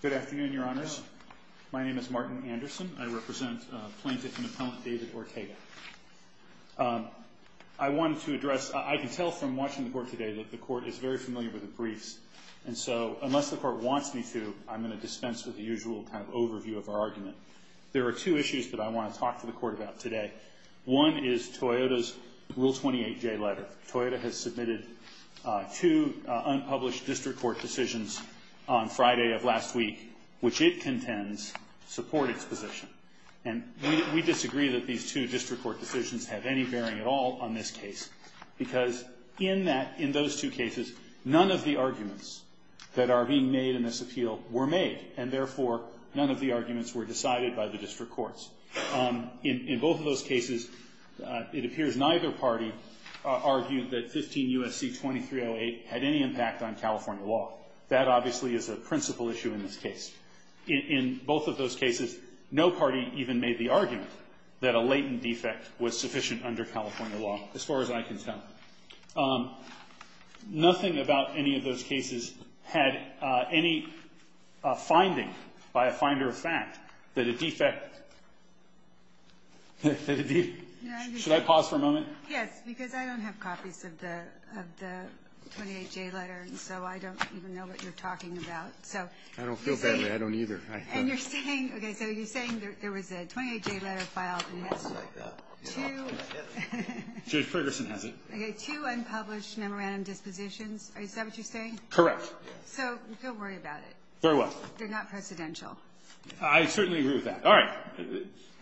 Good afternoon, Your Honors. My name is Martin Anderson. I represent plaintiff and appellant David Ortega. I wanted to address, I can tell from watching the court today that the court is very familiar with the briefs, and so unless the court wants me to, I'm going to dispense with the usual kind of overview of our argument. There are two issues that I want to talk to the court about today. One is Toyota's Rule 28J letter. Toyota has submitted two unpublished district court decisions on Friday of last week, which it contends support its position. And we disagree that these two district court decisions have any bearing at all on this case, because in that, in those two cases, none of the arguments that are being made in this appeal were made, and therefore none of the arguments were decided by the district courts. In both of those cases, it appears neither party argued that 15 U.S.C. 2308 had any impact on California law. That obviously is a principal issue in this case. In both of those cases, no party even made the argument that a latent defect was sufficient under California law, as far as I can tell. Nothing about any of those cases had any finding by a finder of fact that a defect. Should I pause for a moment? Yes, because I don't have copies of the 28J letter, and so I don't even know what you're talking about. I don't feel badly. I don't either. And you're saying, okay, so you're saying there was a 28J letter filed and it's two unpublished memorandum dispositions. Is that what you're saying? Correct. So don't worry about it. Very well. They're not presidential. I certainly agree with that. All right.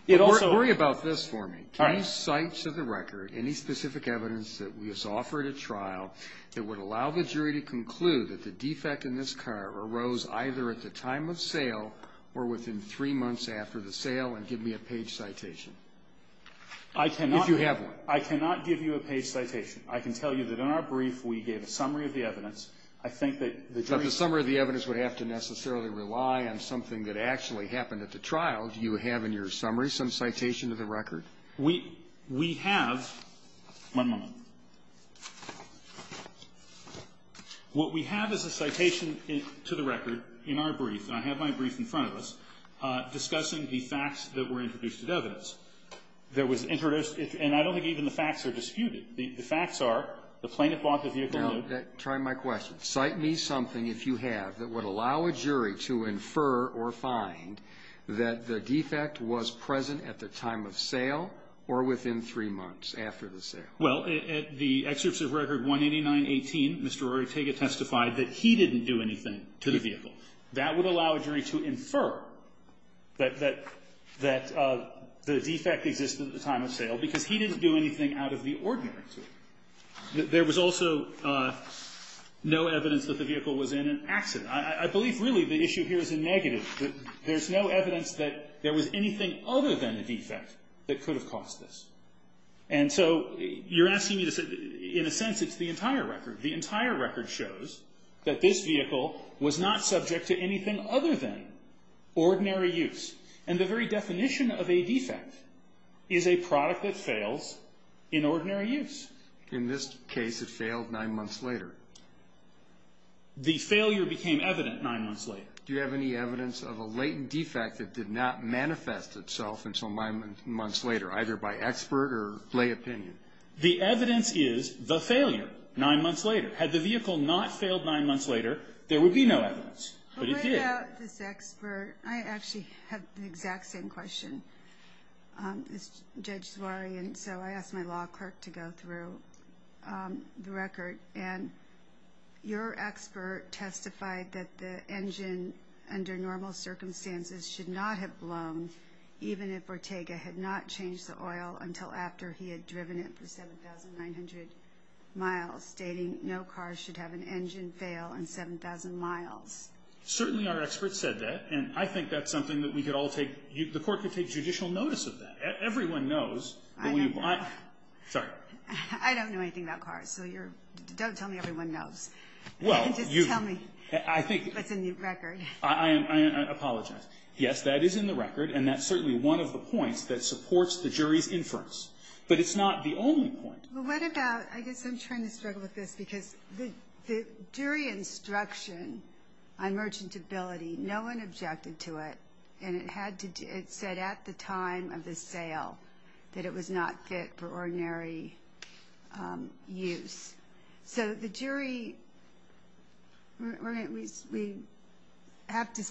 It also ---- Worry about this for me. All right. Can you cite to the record any specific evidence that was offered at trial that would allow the jury to conclude that the defect in this car arose either at the time of sale or within three months after the sale, and give me a page citation? I cannot ---- If you have one. I cannot give you a page citation. I can tell you that in our brief we gave a summary of the evidence. I think that the jury ---- But the summary of the evidence would have to necessarily rely on something that actually happened at the trial. Do you have in your summary some citation to the record? We have ---- One moment. What we have is a citation to the record in our brief, and I have my brief in front of us, discussing the facts that were introduced as evidence. There was introduced ---- and I don't think even the facts are disputed. The facts are the plaintiff bought the vehicle and ---- Now, try my question. Cite me something, if you have, that would allow a jury to infer or find that the defect was present at the time of sale or within three months after the sale. Well, at the excerpts of record 189.18, Mr. Rortega testified that he didn't do anything to the vehicle. That would allow a jury to infer that the defect existed at the time of sale because he didn't do anything out of the ordinary to it. There was also no evidence that the vehicle was in an accident. I believe, really, the issue here is a negative. There's no evidence that there was anything other than a defect that could have caused this. And so you're asking me to say, in a sense, it's the entire record. The entire record shows that this vehicle was not subject to anything other than ordinary use. And the very definition of a defect is a product that fails in ordinary use. In this case, it failed nine months later. The failure became evident nine months later. Do you have any evidence of a latent defect that did not manifest itself until nine months later, either by expert or lay opinion? The evidence is the failure nine months later. Had the vehicle not failed nine months later, there would be no evidence. But it did. I actually have the exact same question. It's Judge Zawahiri. And so I asked my law clerk to go through the record. And your expert testified that the engine, under normal circumstances, should not have blown even if Ortega had not changed the oil until after he had driven it for 7,900 miles, stating no car should have an engine fail in 7,000 miles. Certainly our expert said that. And I think that's something that we could all take the court could take judicial notice of that. Everyone knows. I don't know. Sorry. I don't know anything about cars. So don't tell me everyone knows. Just tell me what's in the record. I apologize. Yes, that is in the record. And that's certainly one of the points that supports the jury's inference. But it's not the only point. Well, what about, I guess I'm trying to struggle with this, because the jury instruction on merchantability, no one objected to it. And it said at the time of the sale that it was not fit for ordinary use. So the jury, we have to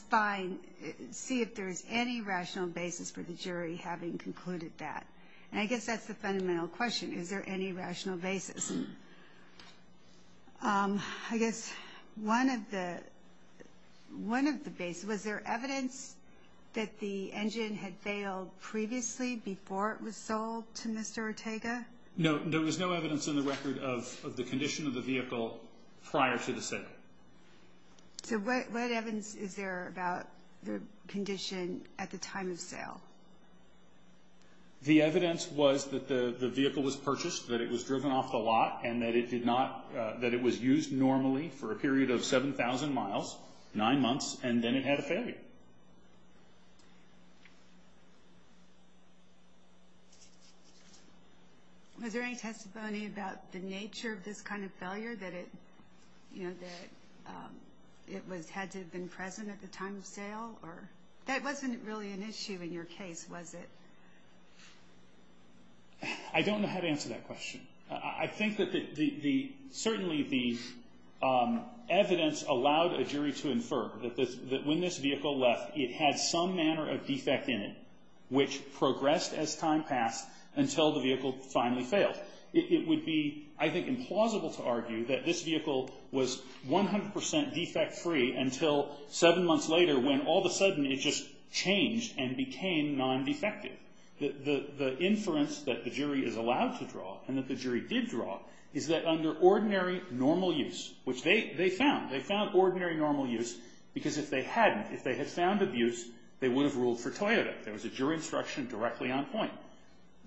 see if there's any rational basis for the jury having concluded that. And I guess that's the fundamental question. Is there any rational basis? I guess one of the basis, was there evidence that the engine had failed previously before it was sold to Mr. Ortega? No, there was no evidence in the record of the condition of the vehicle prior to the sale. So what evidence is there about the condition at the time of sale? The evidence was that the vehicle was purchased, that it was driven off the lot, and that it did not, that it was used normally for a period of 7,000 miles, nine months, and then it had a failure. Was there any testimony about the nature of this kind of failure, that it had to have been present at the time of sale? That wasn't really an issue in your case, was it? I don't know how to answer that question. I think that certainly the evidence allowed a jury to infer that when this vehicle left, it had some manner of defect in it, which progressed as time passed until the vehicle finally failed. It would be, I think, implausible to argue that this vehicle was 100% defect free until seven months later when all of a sudden it just changed and became non-defective. The inference that the jury is allowed to draw and that the jury did draw is that under ordinary normal use, which they found, they found ordinary normal use because if they hadn't, if they had found abuse, they would have ruled for Toyota. There was a jury instruction directly on point.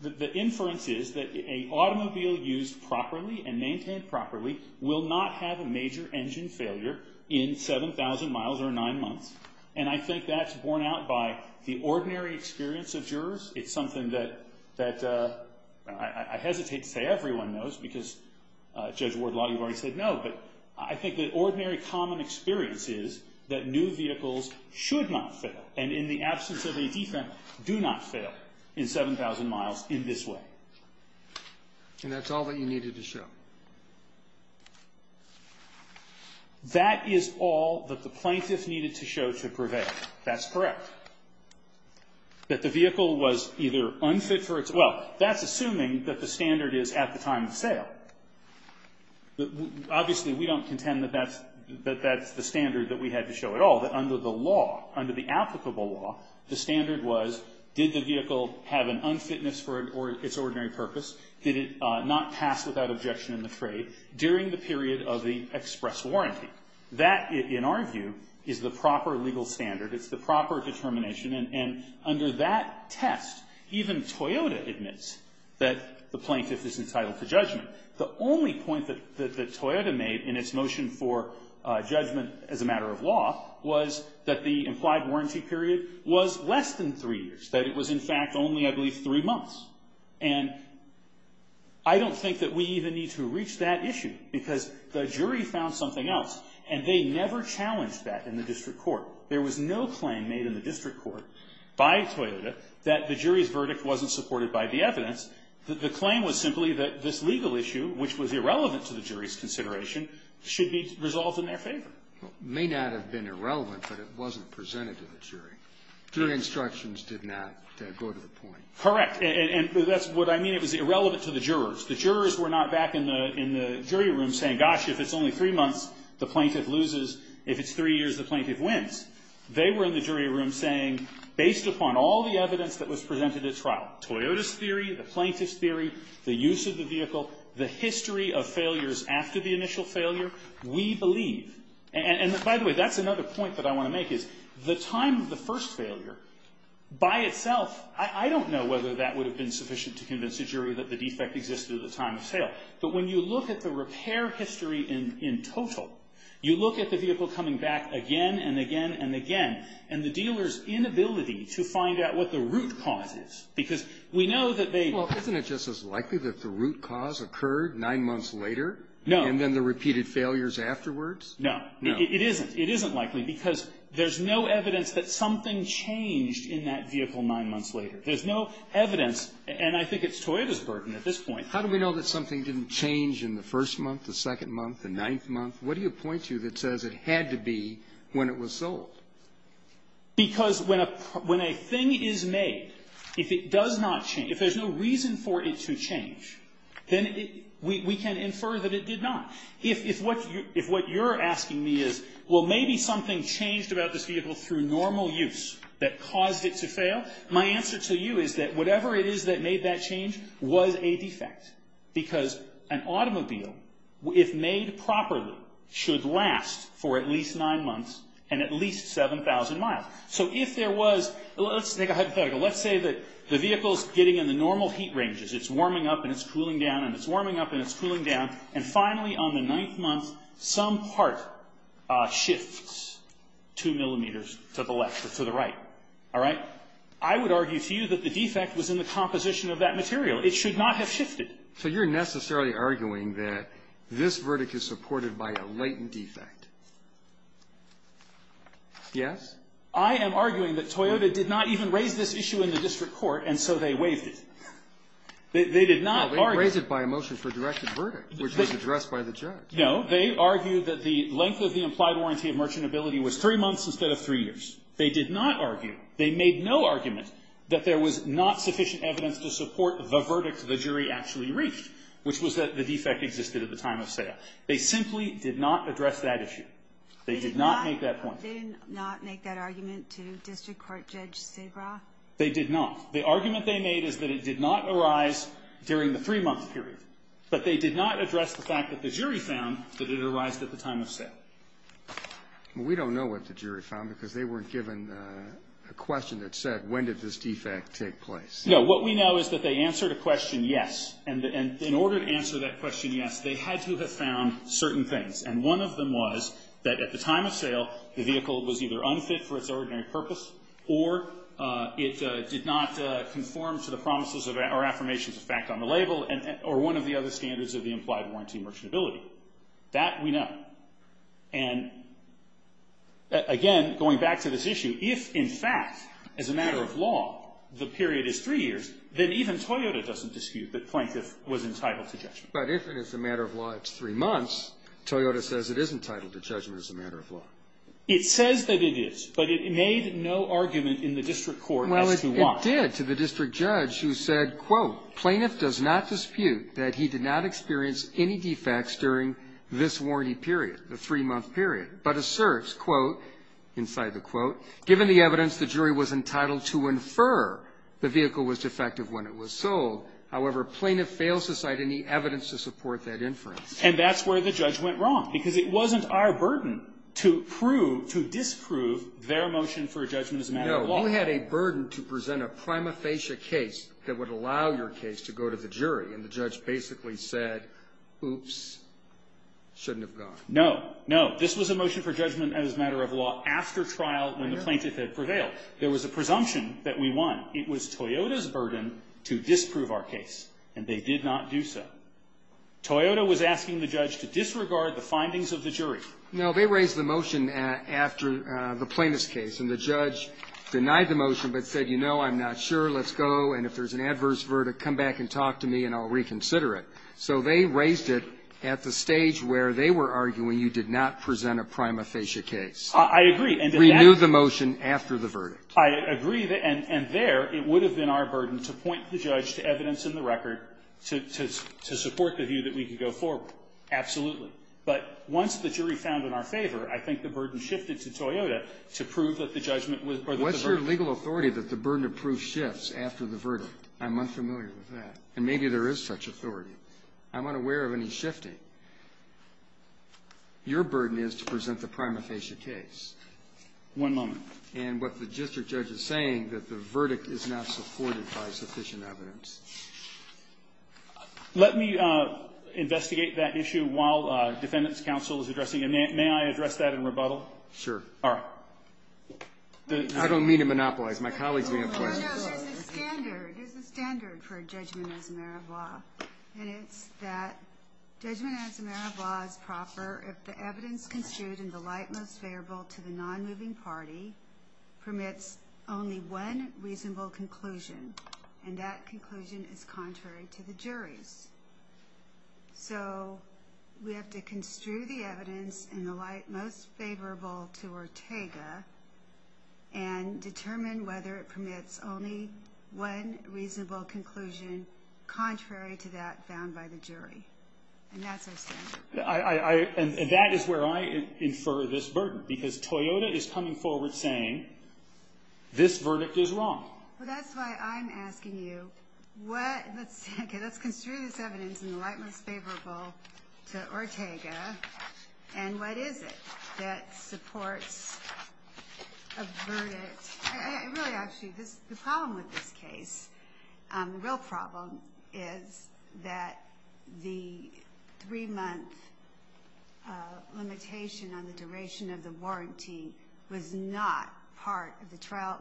The inference is that an automobile used properly and maintained properly will not have a major engine failure in 7,000 miles or nine months. I think that's borne out by the ordinary experience of jurors. It's something that I hesitate to say everyone knows because Judge Ward-Lott, you've already said no, but I think that ordinary common experience is that new vehicles should not fail and in the absence of a defect, do not fail in 7,000 miles in this way. And that's all that you needed to show. That is all that the plaintiff needed to show to prevail. That's correct. That the vehicle was either unfit for its, well, that's assuming that the standard is at the time of sale. Obviously, we don't contend that that's the standard that we had to show at all. Under the law, under the applicable law, the standard was did the vehicle have an unfitness for its ordinary purpose? Did it not pass without objection in the trade during the period of the express warranty? That, in our view, is the proper legal standard. It's the proper determination. And under that test, even Toyota admits that the plaintiff is entitled to judgment. The only point that Toyota made in its motion for judgment as a matter of law was that the implied warranty period was less than three years. That it was, in fact, only, I believe, three months. And I don't think that we even need to reach that issue because the jury found something else. And they never challenged that in the district court. There was no claim made in the district court by Toyota that the jury's verdict wasn't supported by the evidence. The claim was simply that this legal issue, which was irrelevant to the jury's consideration, should be resolved in their favor. It may not have been irrelevant, but it wasn't presented to the jury. The jury instructions did not go to the point. Correct. And that's what I mean. It was irrelevant to the jurors. The jurors were not back in the jury room saying, gosh, if it's only three months, the plaintiff loses. If it's three years, the plaintiff wins. They were in the jury room saying, based upon all the evidence that was presented at trial, Toyota's theory, the plaintiff's theory, the use of the vehicle, the history of failures after the initial failure, we believe. And by the way, that's another point that I want to make, is the time of the first failure, by itself, I don't know whether that would have been sufficient to convince the jury that the defect existed at the time of sale. But when you look at the repair history in total, you look at the vehicle coming back again and again and again, and the dealer's inability to find out what the root cause is. Because we know that they... Well, isn't it just as likely that the root cause occurred nine months later? No. And then the repeated failures afterwards? No. It isn't. It isn't likely, because there's no evidence that something changed in that vehicle nine months later. There's no evidence, and I think it's Toyota's burden at this point. How do we know that something didn't change in the first month, the second month, the ninth month? What do you point to that says it had to be when it was sold? Because when a thing is made, if it does not change, if there's no reason for it to change, then we can infer that it did not. If what you're asking me is, well, maybe something changed about this vehicle through normal use that caused it to fail, my answer to you is that whatever it is that made that change was a defect. Because an automobile, if made properly, should last for at least nine months and at least 7,000 miles. So if there was... Let's make a hypothetical. Let's say that the vehicle's getting in the normal heat ranges. It's warming up and it's cooling down and it's warming up and it's cooling down, and finally on the ninth month, some part shifts two millimeters to the left or to the right. All right? I would argue to you that the defect was in the composition of that material. It should not have shifted. So you're necessarily arguing that this verdict is supported by a latent defect? Yes. I am arguing that Toyota did not even raise this issue in the district court, and so they waived it. They did not argue... Which was addressed by the judge. No. They argued that the length of the implied warranty of merchantability was three months instead of three years. They did not argue. They made no argument that there was not sufficient evidence to support the verdict the jury actually reached, which was that the defect existed at the time of sale. They simply did not address that issue. They did not make that point. They did not make that argument to district court Judge Sabra? They did not. The argument they made is that it did not arise during the three-month period, but they did not address the fact that the jury found that it arised at the time of sale. We don't know what the jury found because they weren't given a question that said, when did this defect take place? No. What we know is that they answered a question, yes. And in order to answer that question, yes, they had to have found certain things. And one of them was that at the time of sale, the vehicle was either unfit for its ordinary purpose or it did not conform to the promises or affirmations of fact on the label or one of the other standards of the implied warranty merchantability. That we know. And again, going back to this issue, if in fact, as a matter of law, the period is three years, then even Toyota doesn't dispute that Plaintiff was entitled to judgment. But if it is a matter of law, it's three months, Toyota says it is entitled to judgment as a matter of law. It says that it is, but it made no argument in the district court as to why. Well, it did to the district judge who said, quote, Plaintiff does not dispute that he did not experience any defects during this warranty period, the three-month period, but asserts, quote, inside the quote, given the evidence, the jury was entitled to infer the vehicle was defective when it was sold. However, Plaintiff fails to cite any evidence to support that inference. And that's where the judge went wrong, to disprove their motion for judgment as a matter of law. You had a burden to present a prima facie case that would allow your case to go to the jury, and the judge basically said, oops, shouldn't have gone. No, no. This was a motion for judgment as a matter of law after trial, when the Plaintiff had prevailed. There was a presumption that we won. It was Toyota's burden to disprove our case, and they did not do so. Toyota was asking the judge to disregard the findings of the jury. No, they raised the motion after the plaintiff's case, and the judge denied the motion, but said, you know, I'm not sure. Let's go, and if there's an adverse verdict, come back and talk to me, and I'll reconsider it. So they raised it at the stage where they were arguing you did not present a prima facie case. I agree. Renew the motion after the verdict. I agree, and there it would have been our burden to point the judge to evidence in the record to support the view that we could go forward. Absolutely. But once the jury found in our favor, I think the burden shifted to Toyota to prove that the judgment was worth the burden. What's your legal authority that the burden of proof shifts after the verdict? I'm unfamiliar with that, and maybe there is such authority. I'm unaware of any shifting. Your burden is to present the prima facie case. One moment. And what the district judge is saying, that the verdict is not supported by sufficient evidence. Let me investigate that issue while Defendant's Counsel is addressing it. May I address that in rebuttal? Sure. All right. I don't mean to monopolize. My colleagues may have questions. No, no. There's a standard. There's a standard for a judgment as a matter of law, and it's that judgment as a matter of law is proper if the evidence construed in the light most favorable to the non-moving party permits only one reasonable conclusion, and that conclusion is contrary to the jury's. So we have to construe the evidence in the light most favorable to Ortega and determine whether it permits only one reasonable conclusion contrary to that found by the jury. And that's our standard. And that is where I infer this burden, because Toyota is coming forward saying, this verdict is wrong. Well, that's why I'm asking you, let's construe this evidence in the light most favorable to Ortega, and what is it that supports a verdict? Really, actually, the problem with this case, the real problem is that the three-month limitation on the duration of the warranty was not part of the trial.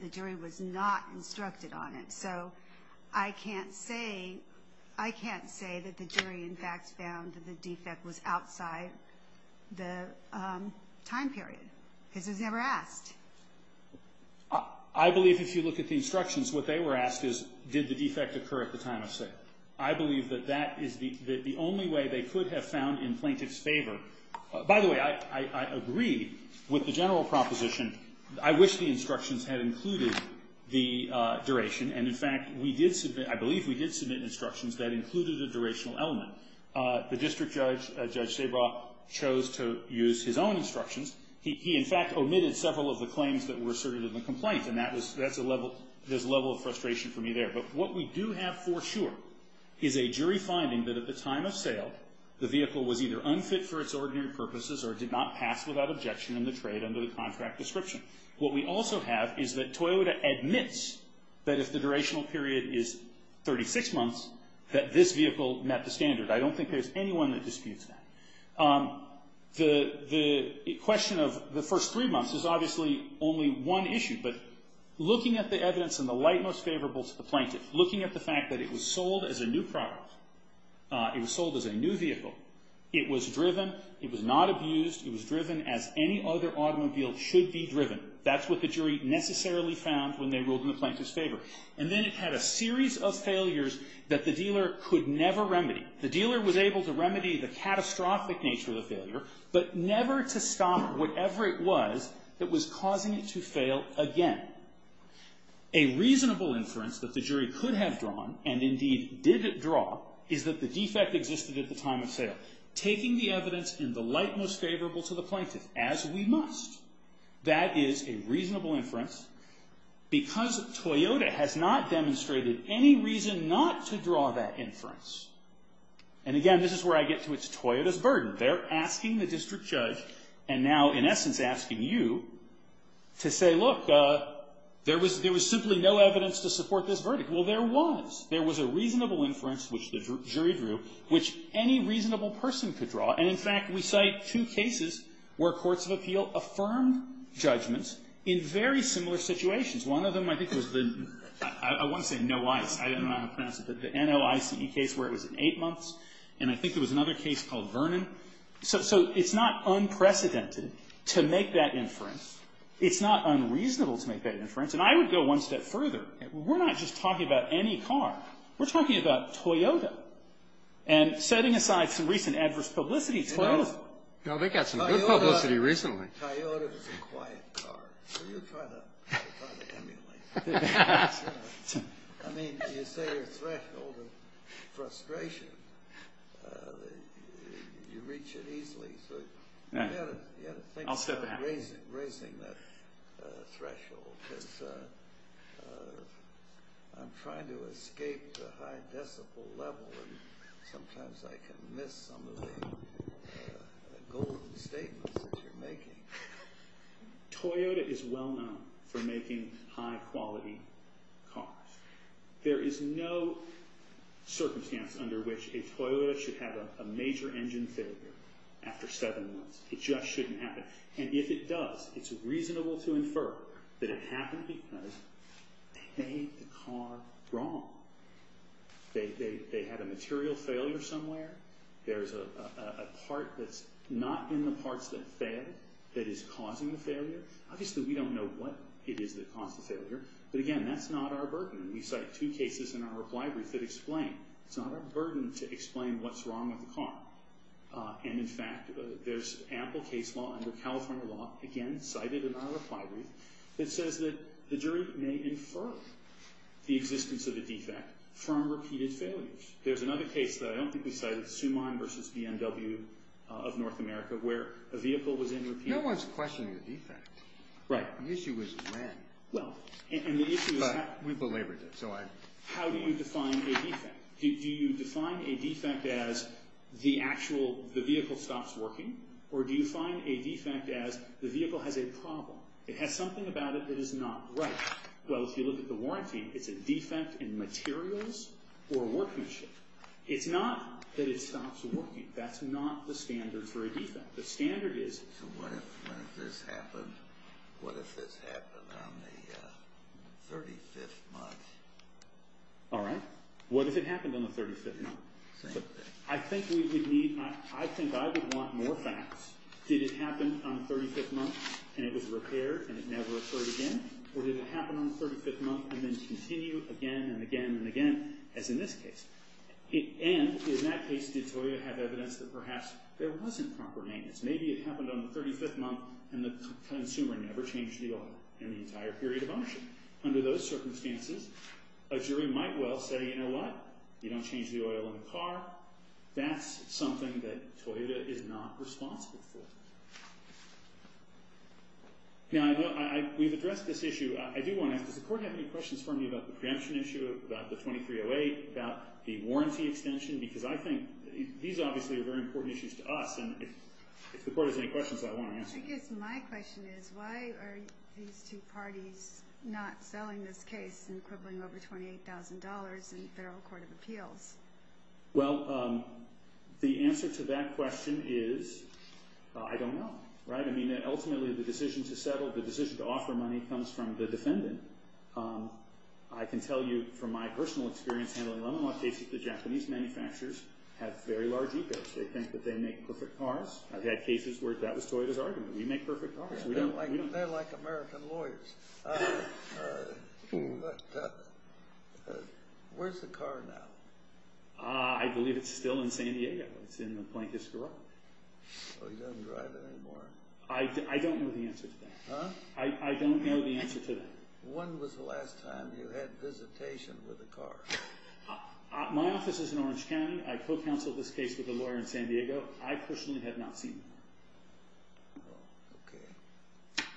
The jury was not instructed on it. So I can't say that the jury, in fact, found that the defect was outside the time period, because it was never asked. I believe if you look at the instructions, what they were asked is did the defect occur at the time of sale. I believe that that is the only way they could have found in plaintiff's favor. By the way, I agree with the general proposition. I wish the instructions had included the duration. And, in fact, I believe we did submit instructions that included a durational element. The district judge, Judge Sabra, chose to use his own instructions. He, in fact, omitted several of the claims that were asserted in the complaint. And that's a level of frustration for me there. But what we do have for sure is a jury finding that at the time of sale, the vehicle was either unfit for its ordinary purposes or did not pass without objection in the trade under the contract description. What we also have is that Toyota admits that if the durational period is 36 months, that this vehicle met the standard. I don't think there's anyone that disputes that. The question of the first three months is obviously only one issue, but looking at the evidence in the light most favorable to the plaintiff, looking at the fact that it was sold as a new product, it was sold as a new vehicle, it was driven, it was not abused, it was driven as any other automobile should be driven. That's what the jury necessarily found when they ruled in the plaintiff's favor. And then it had a series of failures that the dealer could never remedy. The dealer was able to remedy the catastrophic nature of the failure, but never to stop whatever it was that was causing it to fail again. A reasonable inference that the jury could have drawn, and indeed did draw, is that the defect existed at the time of sale. Taking the evidence in the light most favorable to the plaintiff, as we must, that is a reasonable inference, because Toyota has not demonstrated any reason not to draw that inference. And again, this is where I get to its Toyota's burden. They're asking the district judge, and now in essence asking you, to say, look, there was simply no evidence to support this verdict. Well, there was. There was a reasonable inference, which the jury drew, which any reasonable person could draw. And in fact, we cite two cases where courts of appeal affirmed judgments in very similar situations. One of them, I think, was the, I won't say Noice, I don't know how to pronounce it, but the N-O-I-C-E case where it was in eight months, and I think there was another case called Vernon. So it's not unprecedented to make that inference. It's not unreasonable to make that inference. And I would go one step further. We're not just talking about any car. We're talking about Toyota. And setting aside some recent adverse publicity, Toyota's... No, they got some good publicity recently. Toyota is a quiet car. So you try to emulate it. I mean, you say your threshold of frustration, you reach it easily. You've got to think about raising that threshold. Because I'm trying to escape the high decibel level, and sometimes I can miss some of the golden statements that you're making. Toyota is well-known for making high-quality cars. There is no circumstance under which a Toyota should have a major engine failure after seven months. It just shouldn't happen. And if it does, it's reasonable to infer that it happened because they made the car wrong. They had a material failure somewhere. There's a part that's not in the parts that failed that is causing the failure. Obviously, we don't know what it is that caused the failure. But again, that's not our burden. We cite two cases in our reply brief that explain. It's not our burden to explain what's wrong with the car. And in fact, there's ample case law under California law, again, cited in our reply brief, that says that the jury may infer the existence of a defect from repeated failures. There's another case that I don't think we cited, Suman versus BMW of North America, where a vehicle was in repeat. No one's questioning the defect. Right. The issue is when. Well, and the issue is how. But we've belabored it, so I... How do you define a defect? Do you define a defect as the actual, the vehicle stops working? Or do you define a defect as the vehicle has a problem? It has something about it that is not right. Well, if you look at the warranty, it's a defect in materials or workmanship. It's not that it stops working. That's not the standard for a defect. The standard is... So what if this happened on the 35th month? All right. What if it happened on the 35th month? Same thing. I think we would need... I think I would want more facts. Did it happen on the 35th month and it was repaired and it never occurred again? Or did it happen on the 35th month and then continue again and again and again, as in this case? And in that case, did Toyota have evidence that perhaps there wasn't proper maintenance? Maybe it happened on the 35th month and the consumer never changed the oil in the entire period of auction. Under those circumstances, a jury might well say, you know what? You don't change the oil in the car. That's something that Toyota is not responsible for. Now, we've addressed this issue. I do want to ask, does the Court have any questions for me about the preemption issue, about the 2308, about the warranty extension? Because I think these obviously are very important issues to us. And if the Court has any questions, I want to answer them. I guess my question is, why are these two parties not selling this case and quibbling over $28,000 in the Federal Court of Appeals? Well, the answer to that question is I don't know, right? I mean, ultimately, the decision to settle, the decision to offer money comes from the defendant. I can tell you from my personal experience handling LeMoyne cases, the Japanese manufacturers have very large egos. They think that they make perfect cars. I've had cases where that was Toyota's argument. We make perfect cars. They're like American lawyers. Where's the car now? I believe it's still in San Diego. It's in the Plankist garage. So he doesn't drive it anymore? I don't know the answer to that. Huh? I don't know the answer to that. When was the last time you had visitation with a car? My office is in Orange County. I co-counseled this case I personally have not seen one. Oh, okay.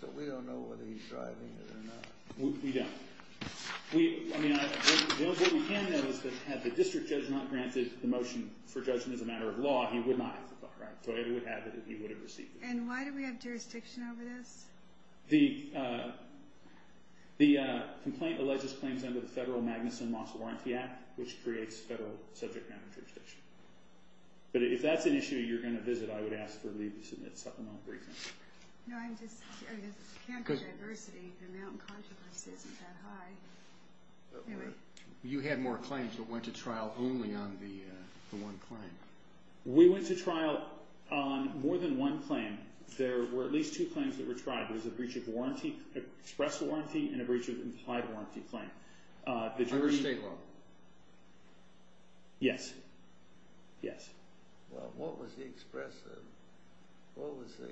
So we've got a lot of questions. We don't know whether he's driving it or not. We don't. What we can know is that had the district judge not granted the motion for judgment as a matter of law, he would not have the car. Toyota would have it if he would have received it. And why do we have jurisdiction over this? The complaint alleges claims under the Federal Magnuson Moss Warranty Act which creates federal subject matter jurisdiction. But if that's an issue you're going to visit, I would ask for leave to submit supplemental briefings. No, I'm just... I mean, there's so much adversity the amount of controversy isn't that high. You had more claims but went to trial only on the one claim. We went to trial on more than one claim. There were at least two claims that were tried. There was a breach of express warranty and a breach of implied warranty claim. Under state law? Yes. Yes. Well, what was the express... What was the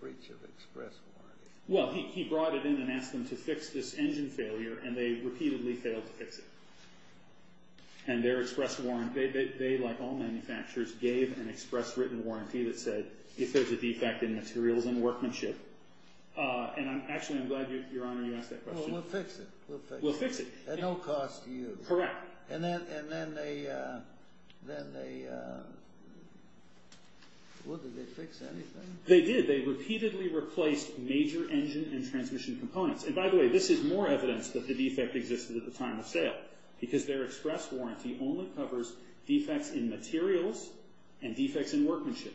breach of express warranty? Well, he brought it in and asked them to fix this engine failure and they repeatedly failed to fix it. And their express warranty... They, like all manufacturers, gave an express written warranty that said if there's a defect in materials and workmanship... And actually, I'm glad, Your Honor, you asked that question. Well, we'll fix it. We'll fix it. At no cost to you. Correct. And then they... Well, did they fix anything? They did. They repeatedly replaced major engine and transmission components. And by the way, this is more evidence that the defect existed at the time of sale because their express warranty only covers defects in materials and defects in workmanship.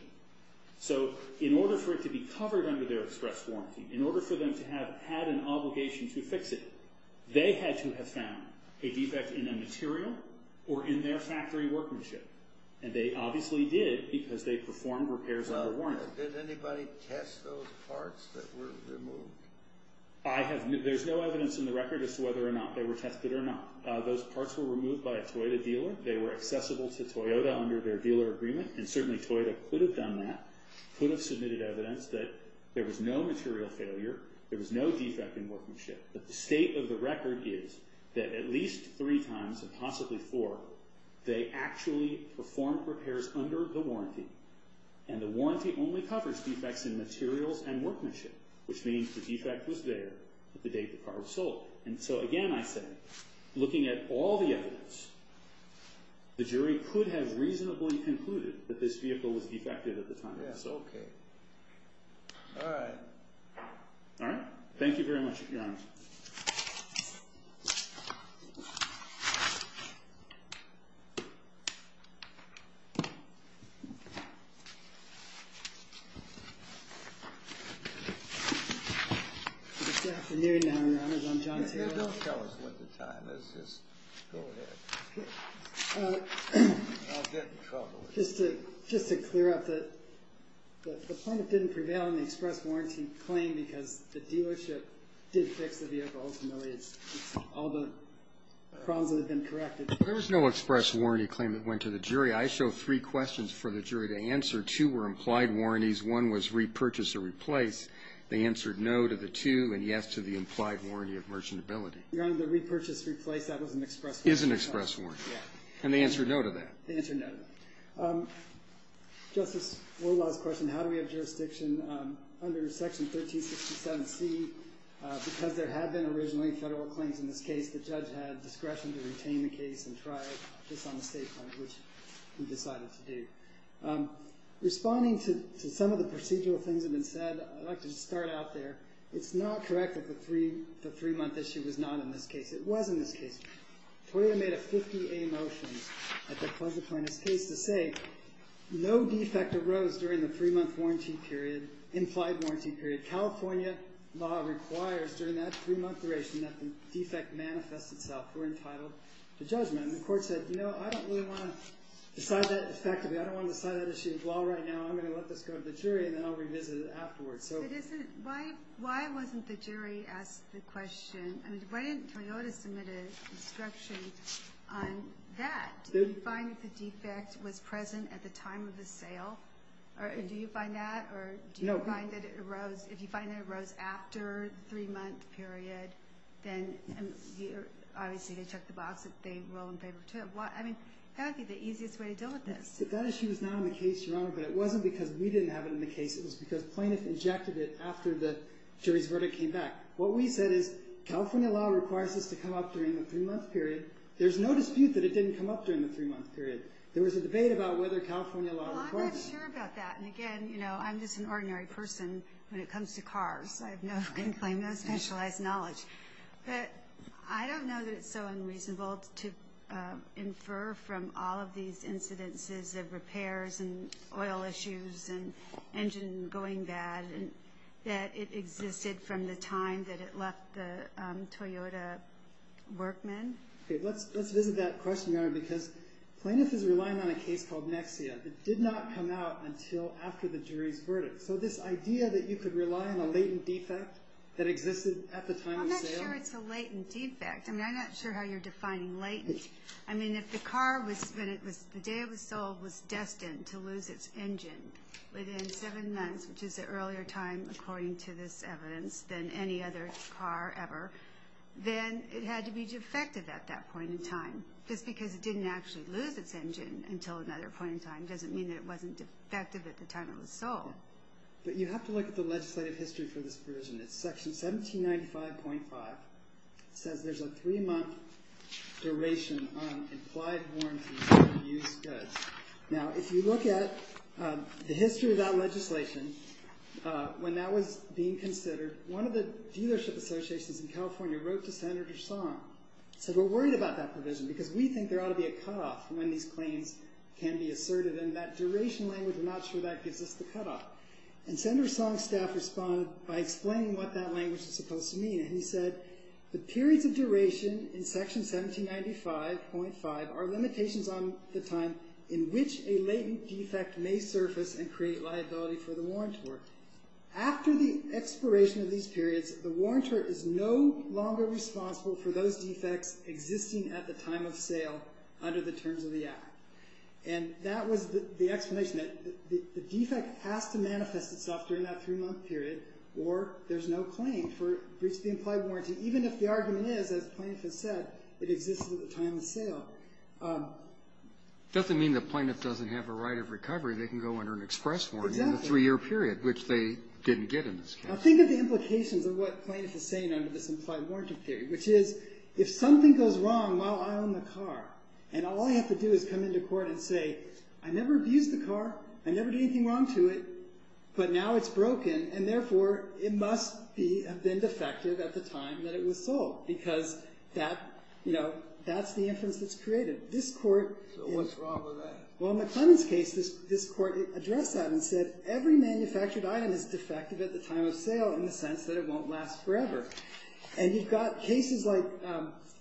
So, in order for it to be covered under their express warranty, in order for them to have had an obligation to fix it, they had to have found a defect in a material or in their factory workmanship. And they obviously did because they performed repairs under warranty. Did anybody test those parts that were removed? I have... There's no evidence in the record as to whether or not they were tested or not. Those parts were removed by a Toyota dealer. They were accessible to Toyota under their dealer agreement and certainly Toyota could have done that, could have submitted evidence that there was no material failure, there was no defect in workmanship. But the state of the record is that at least three times and possibly four, they actually performed repairs under the warranty and the warranty only covers defects in materials and workmanship which means the defect was there the day the car was sold. And so again, I say, looking at all the evidence, the jury could have reasonably concluded that this vehicle was defective at the time it was sold. Alright. Alright? Thank you very much Your Honor. It's afternoon now, Your Honors. I'm John Taylor. Don't tell us what the time is. Just go ahead. I'll get in trouble. Just to clear up the plaintiff didn't prevail on the express warranty claim because the dealership did fix the vehicle been corrected. There was no express warranty claim that went to the jury. I show three questions to the jury and I have three questions to the jury. The first question is, I have three questions for the jury to answer. Two were implied warranties. One was repurchase or replace. They answered no to the two and yes to the implied warranty of merchantability. Your Honor, the repurchase replace that was an express warranty. Is an express warranty. Yeah. And they answered no to that. They answered no to that. Justice, one last question. How do we have jurisdiction under Section 1367C because there had been originally federal claims in this case the judge had made a mistake which he decided to do. Responding to some of the procedural things that have been said, I'd like to start out there. It's not correct that the three month issue was not in this case. It was in this case. Toyota made a 50A motion at the pleasure plaintiff's case to say no defect arose during the three month warranty period, implied warranty period. California law requires during that three month duration that the defect manifest itself or entitled to judgment. And the court said I don't really want to decide that effectively. I don't want to decide that issue in law right now. I'm going to let this go to the jury and then I'll revisit it afterwards. Why wasn't the jury asked the question why didn't Toyota submit an instruction on that? Do you find that the defect was present at the time of the sale? Do you find that? Or do you find that it arose if you find that it arose after the three month period then obviously they check the box if they roll in favor of Toyota. I mean that would be the easiest way to deal with this. That issue is not in the case, Your Honor, but it wasn't because we didn't have it in the case. It was because plaintiff injected it after the jury's verdict came back. What we said is California law and I know I'm just an ordinary person when it comes to cars. I have no specialized knowledge. I don't know that it's so unreasonable to infer from all of these incidences and oil issues and engine going bad that it existed from the time that it left the Toyota workman. Let's visit that question, Your Honor, because plaintiff is relying on a case called Nexia that did not come out until after the jury's verdict. So this idea that you could rely on a latent defect that existed at the time of sale? I'm not sure it's a latent defect. I mean I'm not sure how you're defining latent. I mean if the car was when it was the day it was sold was destined to lose its engine within seven months which is an earlier time according to this evidence than any other car ever then it had to be defective at that point in time. Just because it didn't actually lose its engine until another point in time doesn't mean that it wasn't defective at the time it was sold. But you have to look at the legislative history for this version. It's section 1795.5 says there's a three month duration on implied warranties for used goods. Now if you look at the history of that legislation when that was being considered one of the dealership associations in California wrote to Senator Song and said we're worried about that provision because we think there ought to be a cutoff when these claims can be asserted and that duration language I'm not sure that gives us the cutoff. And Senator Song staff responded by explaining what that language is supposed to mean. Section 1795.5 are limitations on the time in which a latent defect may surface and create liability for the warrantor. After the expiration of these periods the warrantor is no longer responsible for those defects existing at the time of sale under the terms of the act. And that was the explanation that the defect has to manifest itself during that three month period or there's no claim for breach of the implied warranty. Even if the argument is as plaintiff has said it exists at the time of sale. It doesn't mean the plaintiff doesn't have a right of recovery. They can go under an express warranty in a three year period which they didn't get in this case. Now think of the implications of what plaintiff is saying under this implied warranty theory which is if something goes wrong while I own the car and all I have to do is come into court and say I never abused the car, I never did anything wrong to it, but now it's broken and therefore it must have been defective at the time that it was sold because that's the inference that's created. This court So what's wrong with that? Well in McClellan's case this court addressed that and said every manufactured item is defective at the time of sale in the sense that it won't last forever and you've got cases like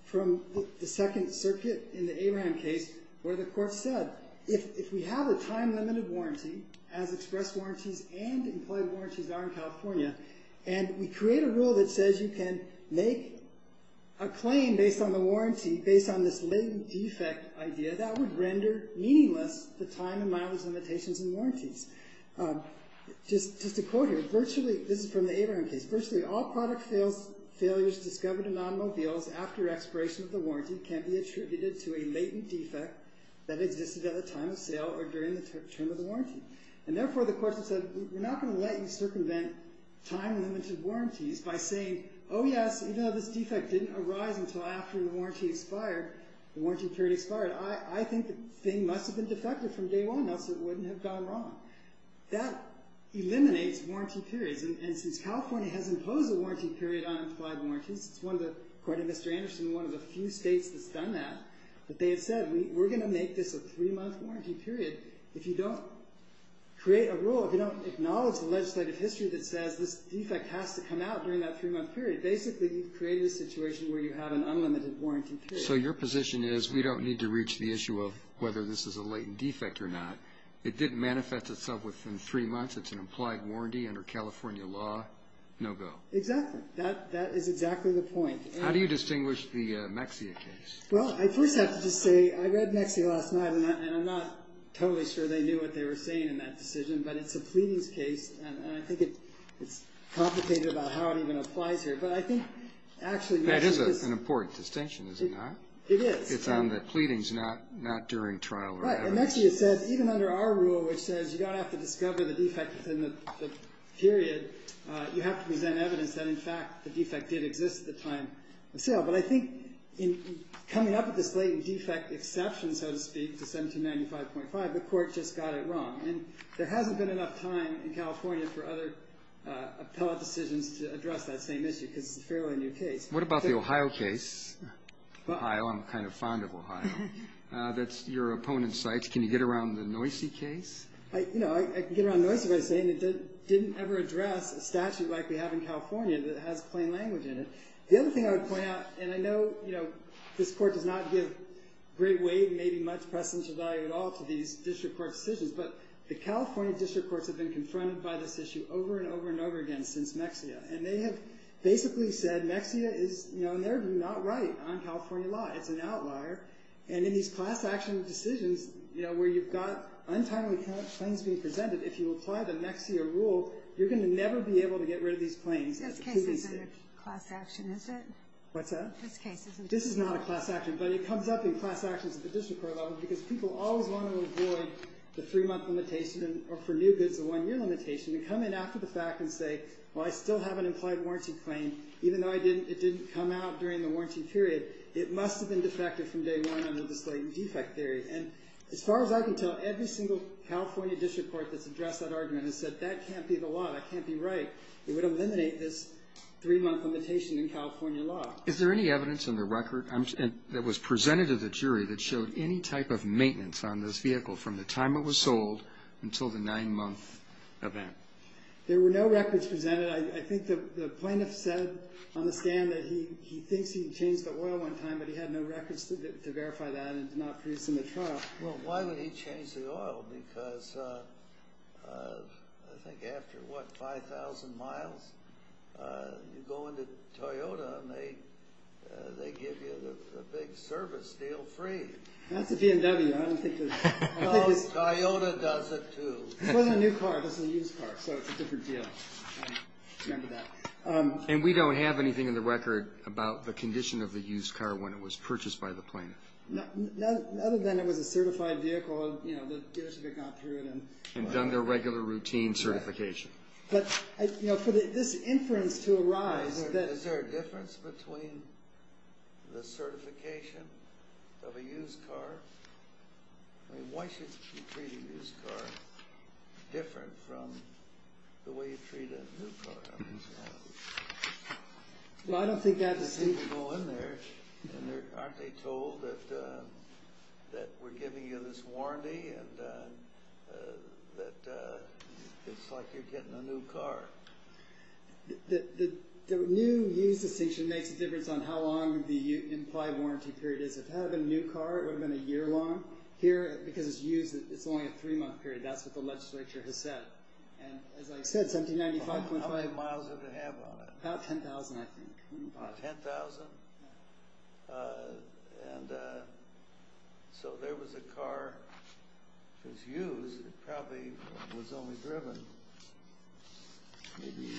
from the second circuit in the Abraham case where the court said if we have a time limited warranty as express warranties and employee warranties are in California and we create a rule that says you can make a claim based on the warranty based on this latent defect idea that would render meaningless the time and mileage limitations and warranties. Just a quote here virtually this is from the Abraham case virtually all product failures discovered in automobiles after expiration of the warranty can be attributed to a latent defect that existed at the time of sale or during the term of the warranty and therefore the court said we're not going to let you circumvent time limited warranties by saying oh yes even though this defect didn't arise until after the warranty expired I think the thing must have been defective from day one else it wouldn't have gone wrong that eliminates warranty periods and since you don't create a rule if you don't acknowledge the legislative history that says this defect has to come out during that three month period basically you've created a situation where you have an unlimited warranty period so your position is we don't need to reach the issue of whether this is a latent defect whether it's you have to issue of whether this is a latent defect so you don't have to reach the issue of whether it's a latent defect coming up with this latent defect exception so to speak to 1795.5 the court just got it wrong and there hasn't been enough time in California for other appellate decisions to address that same issue because it's a fairly new case what about the Ohio case fond of Ohio that's your opponent's site can you get around the Noisy case I can get around Noisy but it didn't ever address a statute like we have in California that has plain language in it the other thing I would point out and I know this court does not give great weight and maybe much precedence or value at all to these district court decisions but the California district courts have been confronted by this issue over and over and over again since Mexia and they have basically said Mexia is in their view not right on California law it's an outlier and in these class action decisions you know where you've got untimely claims being presented if you apply the Mexia rule you're going to never be able to get rid of these claims this case isn't a class action is it what's that this is not a class action but it comes up in class actions at the district court level because people always want to avoid the three month limitation or for new defective from day one under this latent defect theory and as far as I can tell every single California district court that's addressed that argument has said that can't be the law that can't be right it would eliminate this three month limitation in California law is there any evidence in the record that was presented to the jury that showed any type of maintenance on this vehicle from the time it was sold until the nine month event there were no records presented I think the plaintiff said on the stand that he thinks he changed the oil one time but he had no records to verify that and not produce in the trial well why would he change the oil because I think after what five thousand miles you go into Toyota and they give you the big service deal free that's a BMW I don't think Toyota does it too this wasn't a new car this was a used car so it's a different deal and we don't have anything in the record about the condition of the used car when it was purchased by the plaintiff other than it was a certified vehicle and done their regular routine certification but for this inference to arise is there a difference between the certification of a used car I mean why should you treat a used car different from the way you treat a new car I mean well I don't think that goes in there and aren't they told that that we're giving you this warranty and that it's like you're getting a new car the new used distinction makes a difference on how long the implied warranty period is if it had been a new car it would have been a year long here because it's used it's only a three month period that's what the legislature has said and as I said 1795.5 how many miles did it have on it about 10,000 I think 10,000 and so there was a car that was used it probably was only driven maybe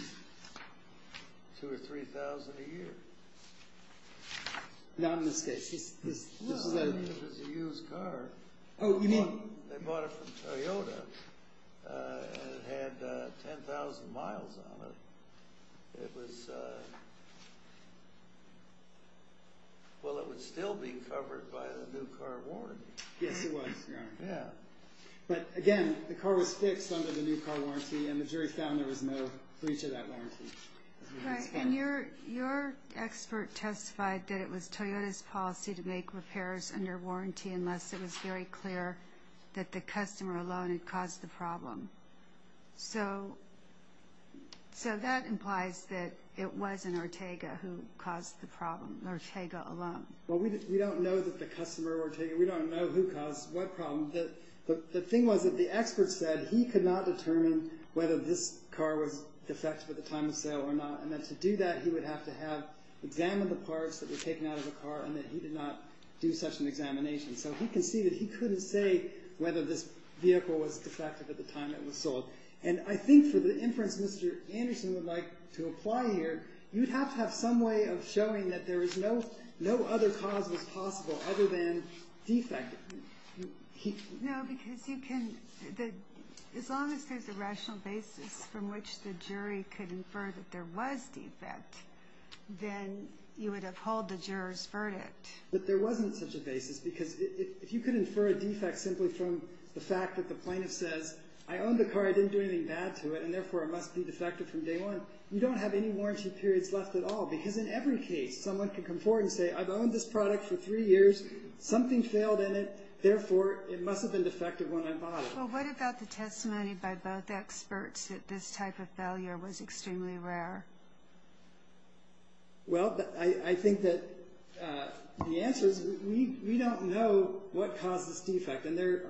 two or three thousand a year not in this case this is a used car oh you mean they bought it from Toyota and it had 10,000 miles on it it was well it was still being covered by the new car warranty yes it was yeah but again the car was fixed under the new car warranty and the jury found there was no breach of that warranty right and your expert testified that it was Toyota's policy to make repairs under warranty unless it was very clear that the customer alone had caused the problem so so that implies that it wasn't Ortega who caused the problem Ortega alone well we don't know that the customer Ortega we don't know who caused what problem the thing was that the expert said he could not determine whether this car was defective at the time of sale or not and to do that he would have to examine the parts that were taken out of the car and he did not do such an examination so he could see that he couldn't say whether this vehicle was defective at the time it was sold and I think for the inference Mr. Anderson would like to apply here you'd have to have some way of showing that there as long as there's a rational basis from which the jury could infer that there was defect then you would uphold the jurors verdict but there wasn't such a basis because if you could infer a defect simply from the fact that the plaintiff says I owned the car I didn't do anything bad to it and therefore it must be defective from day one you don't have any warranty periods left at all because in every case someone can come forward and say I've owned this product for three years something failed in it therefore it must have been defective when I bought it well what about the testimony by both experts that this type of failure was extremely rare well I think that the answer is we don't know what caused this defect and there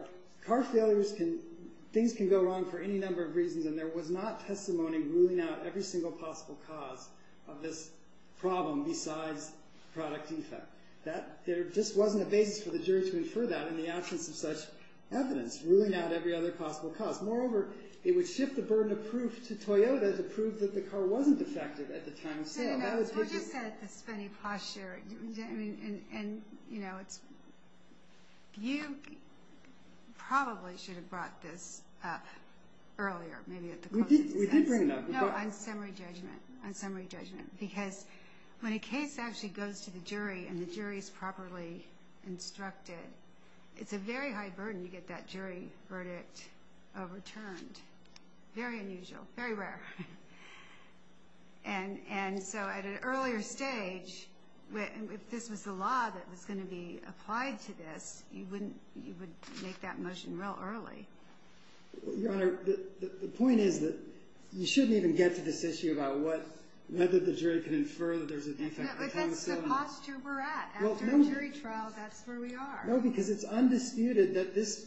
car failures can things can go wrong for any number of reasons and there was not testimony ruling out every single possible cause of this problem besides product defect there just wasn't a basis for the jury to infer that in the absence of such evidence ruling out possible cause moreover it would shift the burden of proof to Toyota to prove that the car wasn't defective at the time of sale that would we did bring it up no on summary judgment on summary judgment because when a case actually goes to the jury and the jury is properly instructed it's a very high burden to get that jury verdict overturned very unusual very rare and and so at an earlier stage if this was the law that was gonna be applied to this you wouldn't you would make that motion real early your honor the point is that you shouldn't even get to this issue about what whether the jury can infer that there's a defect at the time of sale but that's the posture we're at after a jury trial that's where we are no because it's undisputed that this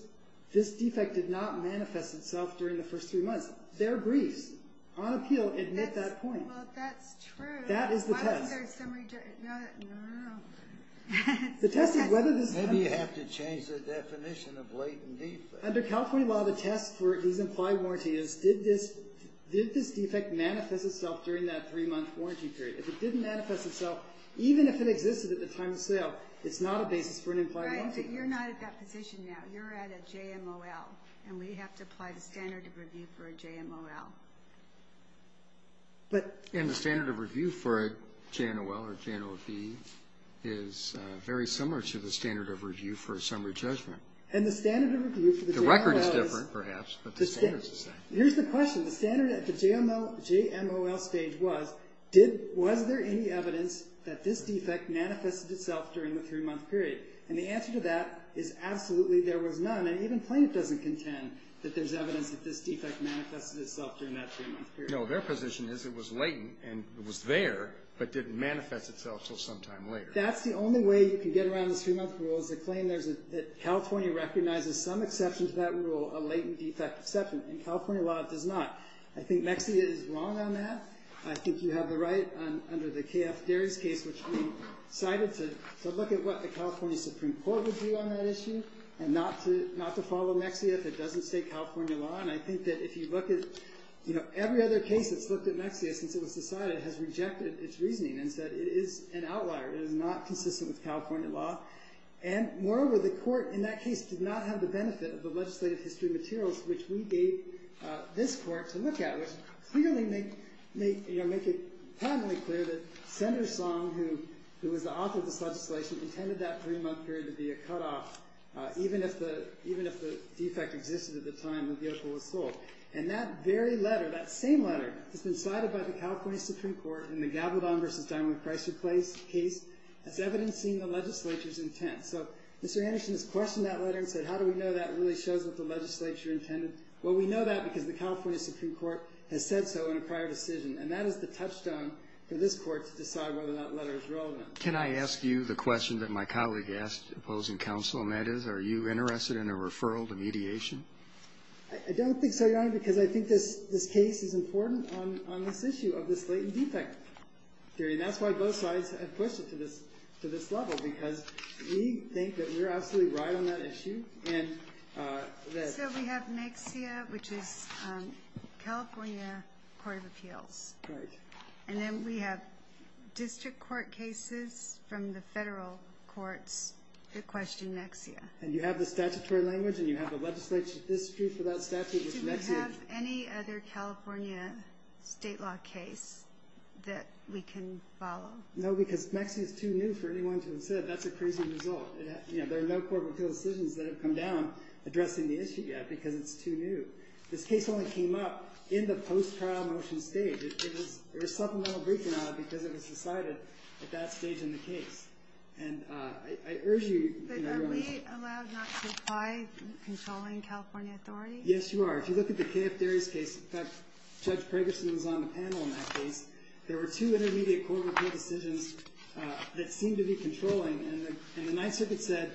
this defect did not manifest itself during the first three months their briefs on appeal admit that point well that's true that is the test why was there summary judgment no no no the test is whether maybe you have to change the definition of latent defect under california law the test for these implied warranties did this did this defect manifest itself during that three month warranty period if it didn't manifest itself even if it existed at the time of sale it's not a basis for an implied warranty right but you're not at that position now you're at a JMOL and we have to apply the standard of review for a JMOL but and the standard of review for a JMOL or JMOB is very similar to the standard of review for a summary judgment and the standard of review for the JMOL the record is different perhaps but the standards are the same here's the question the standard at the JMOL stage was did was there any evidence that this defect manifested itself during the three month period and the answer to that is absolutely there was none and even plaintiff doesn't contend that there's evidence that this defect manifested itself during that three month period no their position is it was latent and it was there but didn't manifest itself until sometime later that's the only way you can get around this three month rule is to claim that California recognizes some exceptions to that rule a latent defect exception in California law it does not I think Mexia is wrong on that I think you have the right under the K.F. Darry's case which we decided to look at what the California Supreme Court would do on that every other case that's looked at Mexia since it was decided has rejected its reasoning and said it is an outlier it is not consistent with California law and moreover the court in that case did not have the benefit of the legislative history materials which we gave this court to look at which clearly make it plainly clear that Senator Song who was the author of this legislation intended that three month period to be a cut off even if the defect existed at the time the vehicle was sold and that very letter that same letter has been cited by the California Supreme Court in the Gabaldon v. Diamond Chrysler case as evidencing the legislature's intent so Mr. Anderson has questioned that letter and said how do we know that really shows what the legislature intended well we know that because the California Supreme Court has said so in a prior decision and that is the touchstone for this court to decide whether that letter is relevant Can I ask you the question that my colleague asked opposing counsel and that is are you interested in a referral to mediation I don't think so your honor because I think this case is important on this issue of this latent defect theory and that's why both sides have pushed it to this level because we think that we're absolutely right on that issue and so we have NEXIA which is California Court of Appeals right and then we have district court cases from the federal courts that question NEXIA and you have the statutory language and you have a legislature dispute without statute with NEXIA do we have any other California state law case that we can follow no because NEXIA is too new for anyone to have said that's a crazy result there are no court of appeals decisions that have come down addressing the issue yet because it's too new this case only came up in the post-trial motion stage there was supplemental briefing on it because it was decided at that stage in the case and I urge you your honor but are we allowed not to apply controlling California authorities yes you are if you look at the K.F. Derry's case in fact Judge Pregerson was on the panel in that case there were two intermediate court of appeals decisions that seemed to be controlling and the Ninth Circuit said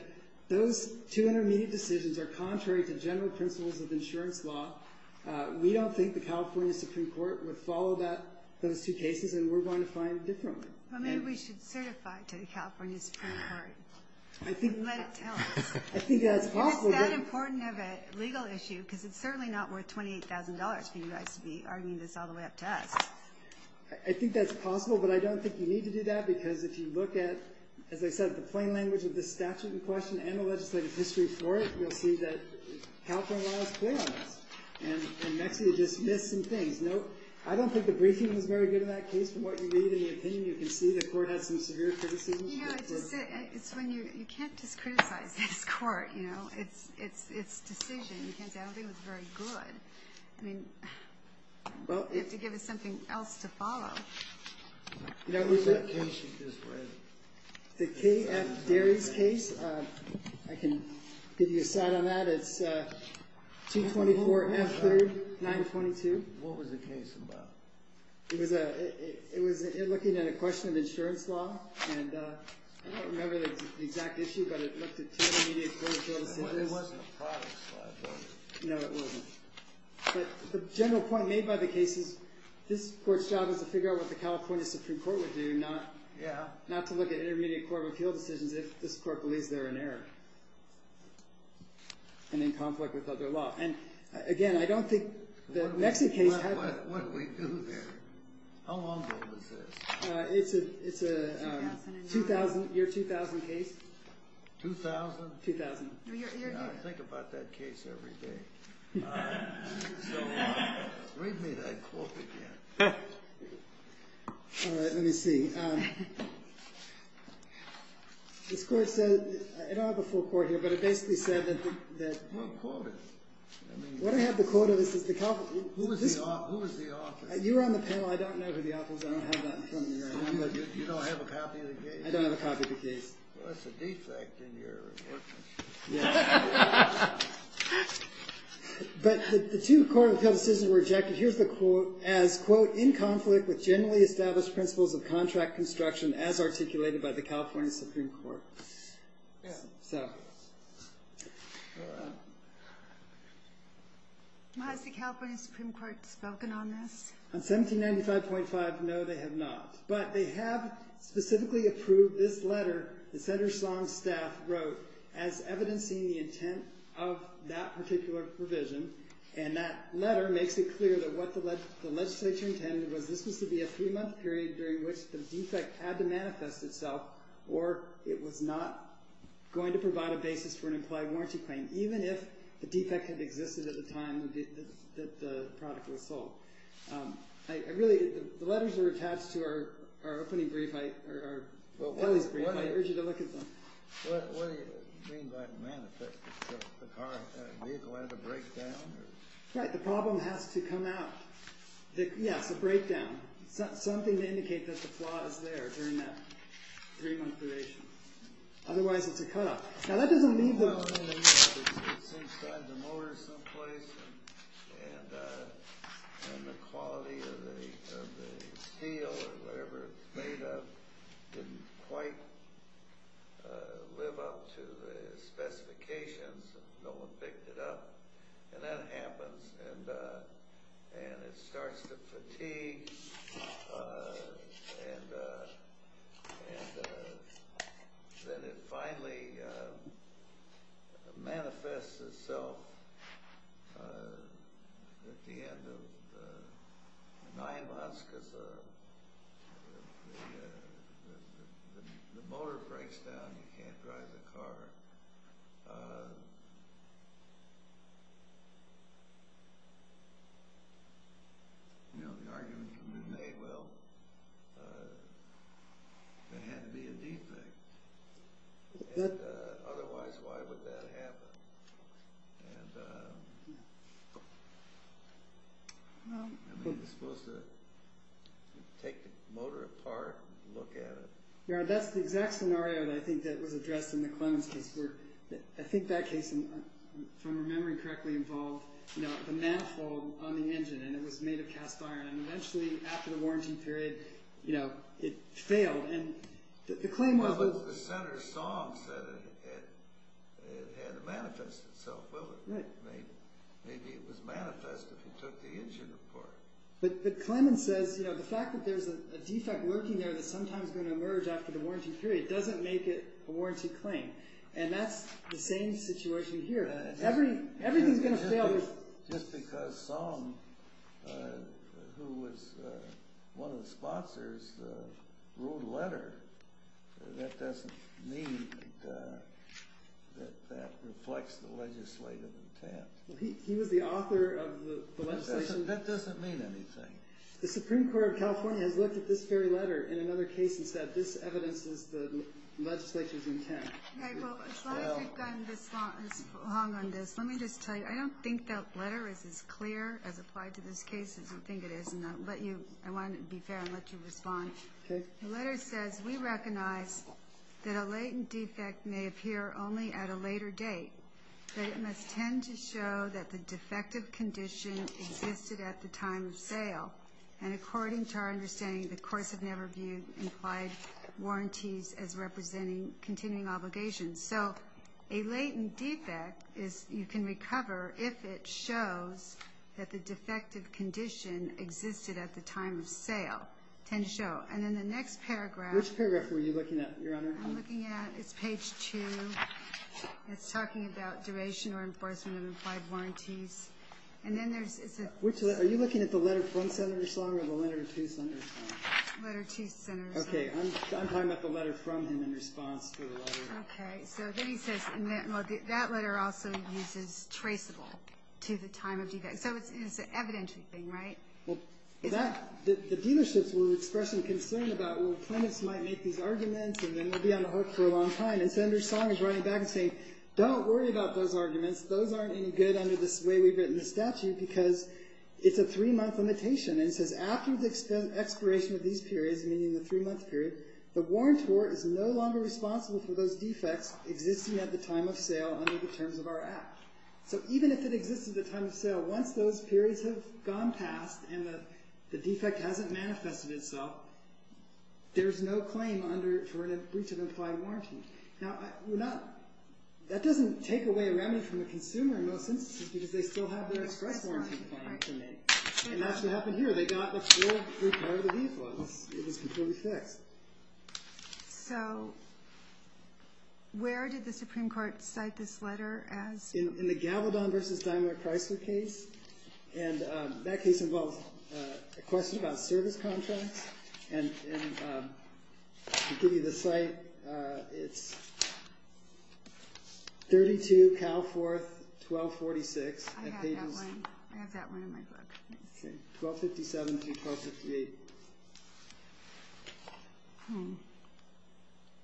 those two intermediate decisions are contrary to general principles of insurance law we don't think the California Supreme Court would follow those two cases and we're going to find it differently maybe we should certify to the California Supreme Court and let it tell us I think that's possible and it's that important of a legal issue because it's certainly not worth $28,000 for you guys to be arguing this all the way up to us I think that's we need to do that because if you look at as I said the plain language of this statute in question and the legislative history for it you'll see that California laws play on this and Mexico just missed some things I don't think the briefing was very good in that case from what you read and the opinion you can see the court had some severe criticisms you can't just criticize this court it's decision you can't say I don't think it was very good you have to give something else to follow What was that case that you just read? The K.F. Darry's case I can give you a side on that it's 224 F3 922 What was the case about? It was looking at a question of insurance law and I don't remember the exact issue but it looked court cases It wasn't a product slide was it? No it wasn't but the general point made by the case is that it was a product slide This court's job is to figure out what the California Supreme Court would do not to look at intermediate court appeal decisions if this court believes they are in error and in conflict with other law and again I don't think the Mexican case What did we do there? How long was this? It's a 2000 year 2000 case 2000? 2000 I think about that case every day so Read me that quote again Alright let me see This court said I don't have a full court here but it basically said What quote is it? What I have the quote of is Who is the author? You were on the panel I don't know who the author is I don't have that You don't have a copy of the case? I don't have a copy of the case That's a defect in your report But the two court of appeal decisions were rejected here's the quote as quote in conflict with generally established principles of contract construction as articulated by the California Supreme Court So Has the California Supreme Court spoken on this? On 1795.5 no they have not but they have specifically approved this letter that Senator Sloan's staff wrote as evidencing the intent of that particular provision and that letter makes it clear that what the legislature intended was this was to be a three month period during which the defect had to manifest itself or it was not going to provide a basis for an implied warranty claim even if the defect had existed at the time that the product was the car vehicle had a breakdown right the problem has to come out yes a breakdown something to indicate that the flaw is there during that three month duration otherwise it's a cut off now that doesn't mean that it's inside the motor someplace and the quality of the steel or whatever it's made of didn't quite live up to specifications no one picked it up and that happens and and it starts to fatigue and then finally manifests itself at the end of nine months because the motor breaks down you can't drive the car and the you know the argument would be well it had to be a defect and otherwise why would that happen and I mean it's supposed to take the motor apart and look at it yeah that's the exact scenario I think that was addressed in the Clemens case where I think that case if I'm remembering correctly involved you know the manifold on the engine and it was made of cast iron and eventually after the warranty period you know it failed and the claim was well the Senator Song said it had manifested itself will it maybe it was manifest if he took the engine apart but Clemens says you know the fact that there's a defect working there that's sometimes going to emerge after the warranty period doesn't make it a warranted claim and that's the same situation here everything's going to fail just because Song who was one of the sponsors wrote a letter that doesn't mean that that reflects the legislative intent he was the author of the letter the Supreme Court of California has looked at this very letter in another case and said this evidences the legislature's intent as long as we've gone this long on this let me just tell you I don't think that letter is as clear as applied to this case as I think it is and I'll let you I want to be fair and let you respond the letter says we recognize that a latent defect may appear only at a later date but it must tend to show that the defective condition existed at the time of sale and according to our understanding the courts have never viewed implied warranties as representing continuing obligations so a latent defect may show and in the next paragraph which paragraph were you looking at your honor I'm looking at it's page 2 it's talking about duration or enforcement of implied warranties and then there's are you looking at the letter from senator song or the letter to senator song letter to senator song okay I'm talking about the letter from him in response to the letter okay so then he says that letter also uses traceable to the time of defect so it's an evident thing right well that the dealerships were expressing concern about well plaintiffs might make these arguments and then we'll be on the hook for a long time and senator song is writing back saying don't worry about those arguments those aren't any good under this way we've written the statute because it's a three month limitation and it says after the expiration of these periods meaning the three month period the warrantor is no longer responsible for those defects existing at the that doesn't take away a remedy from the consumer in most instances because they still have their express warrant in place and that's what happened here they got a full repair of the vehicle it was completely fixed so where did the Supreme Court cite this letter as in the Gavaldon vs. Daimler Chrysler case and that case involves a question about service contracts and to give you the cite it's 32 Cal 4th 1246 I have that one I have that one in my book 1257 to 1258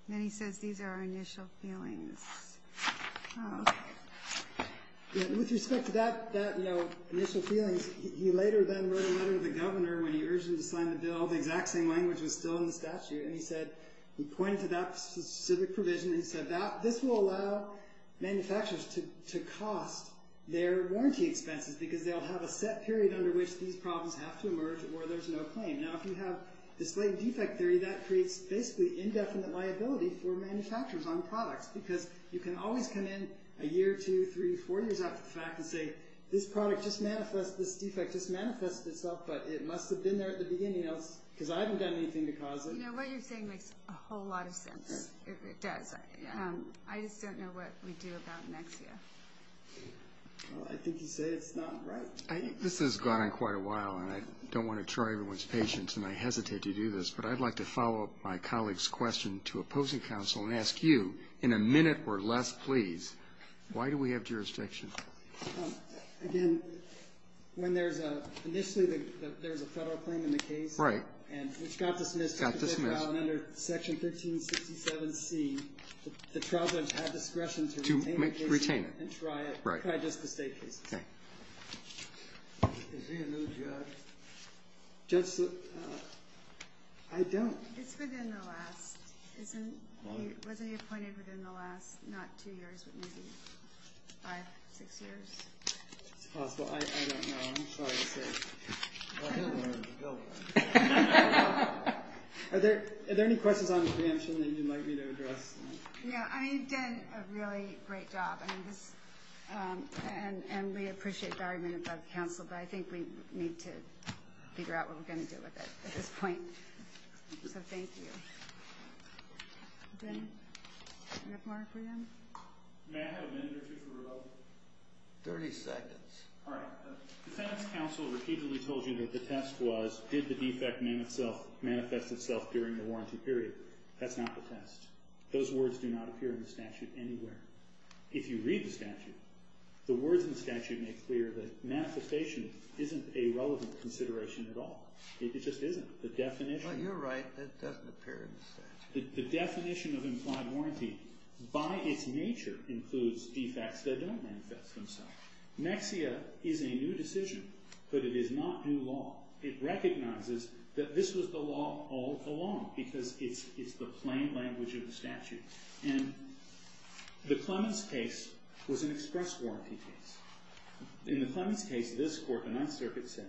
then he says these are our initial feelings with respect to that initial feelings he later then wrote a letter to the governor when he urged him to sign the bill the exact same language was still in the statute and he said he pointed to that specific provision and he said this will allow manufacturers to cost their warranty expenses because they'll have a set period under which these problems have to emerge or there's no claim now if you have this late defect theory that creates basically indefinite liability for manufacturers on products because you can always come in a year, two, three, four years after the fact and say this product just manifested this defect just manifested itself but it must have been there at the beginning because I haven't done anything to cause it you know what you're saying makes a whole lot of sense it does I just don't know what we do about Nexia I think you say it's not right I think this has gone on quite a while and I don't want to try everyone's patience and I hesitate to do this but I'd like to follow my colleague's question to opposing counsel and ask you in a minute or less please why do we have jurisdiction again when there's a initially there's a federal claim in the case right and it's got to dismissed under section 1367c the trial judge had discretion to retain the case and try it right try just the state case okay is there a new judge judge I don't it's within the last isn't wasn't he appointed within the last not two years maybe five six years it's possible I don't know I'm sorry to say are there are there any questions on preemption that you'd like me to address yeah I mean you've done a really great job I mean this and and we appreciate the argument about counsel but I think we need to figure out what we're gonna do with it at this point so thank you okay do we have more for you may I have a minute or two for rebuttal 30 seconds alright defense counsel repeatedly told you that the test was did the defect manifest itself during the warranty period that's not the test those words do not appear in the statute anywhere if you read the statute the words in the statute make clear that manifestation isn't a relevant consideration at all it just isn't the definition well you're right that doesn't appear in the statute the definition of implied warranty by its nature includes defects that don't manifest themselves maxia is a new decision but it is not new law it recognizes that this was the law all along because it's the plain language of the statute and the Clemens case was an express warranty case in the Clemens case this court the ninth circuit said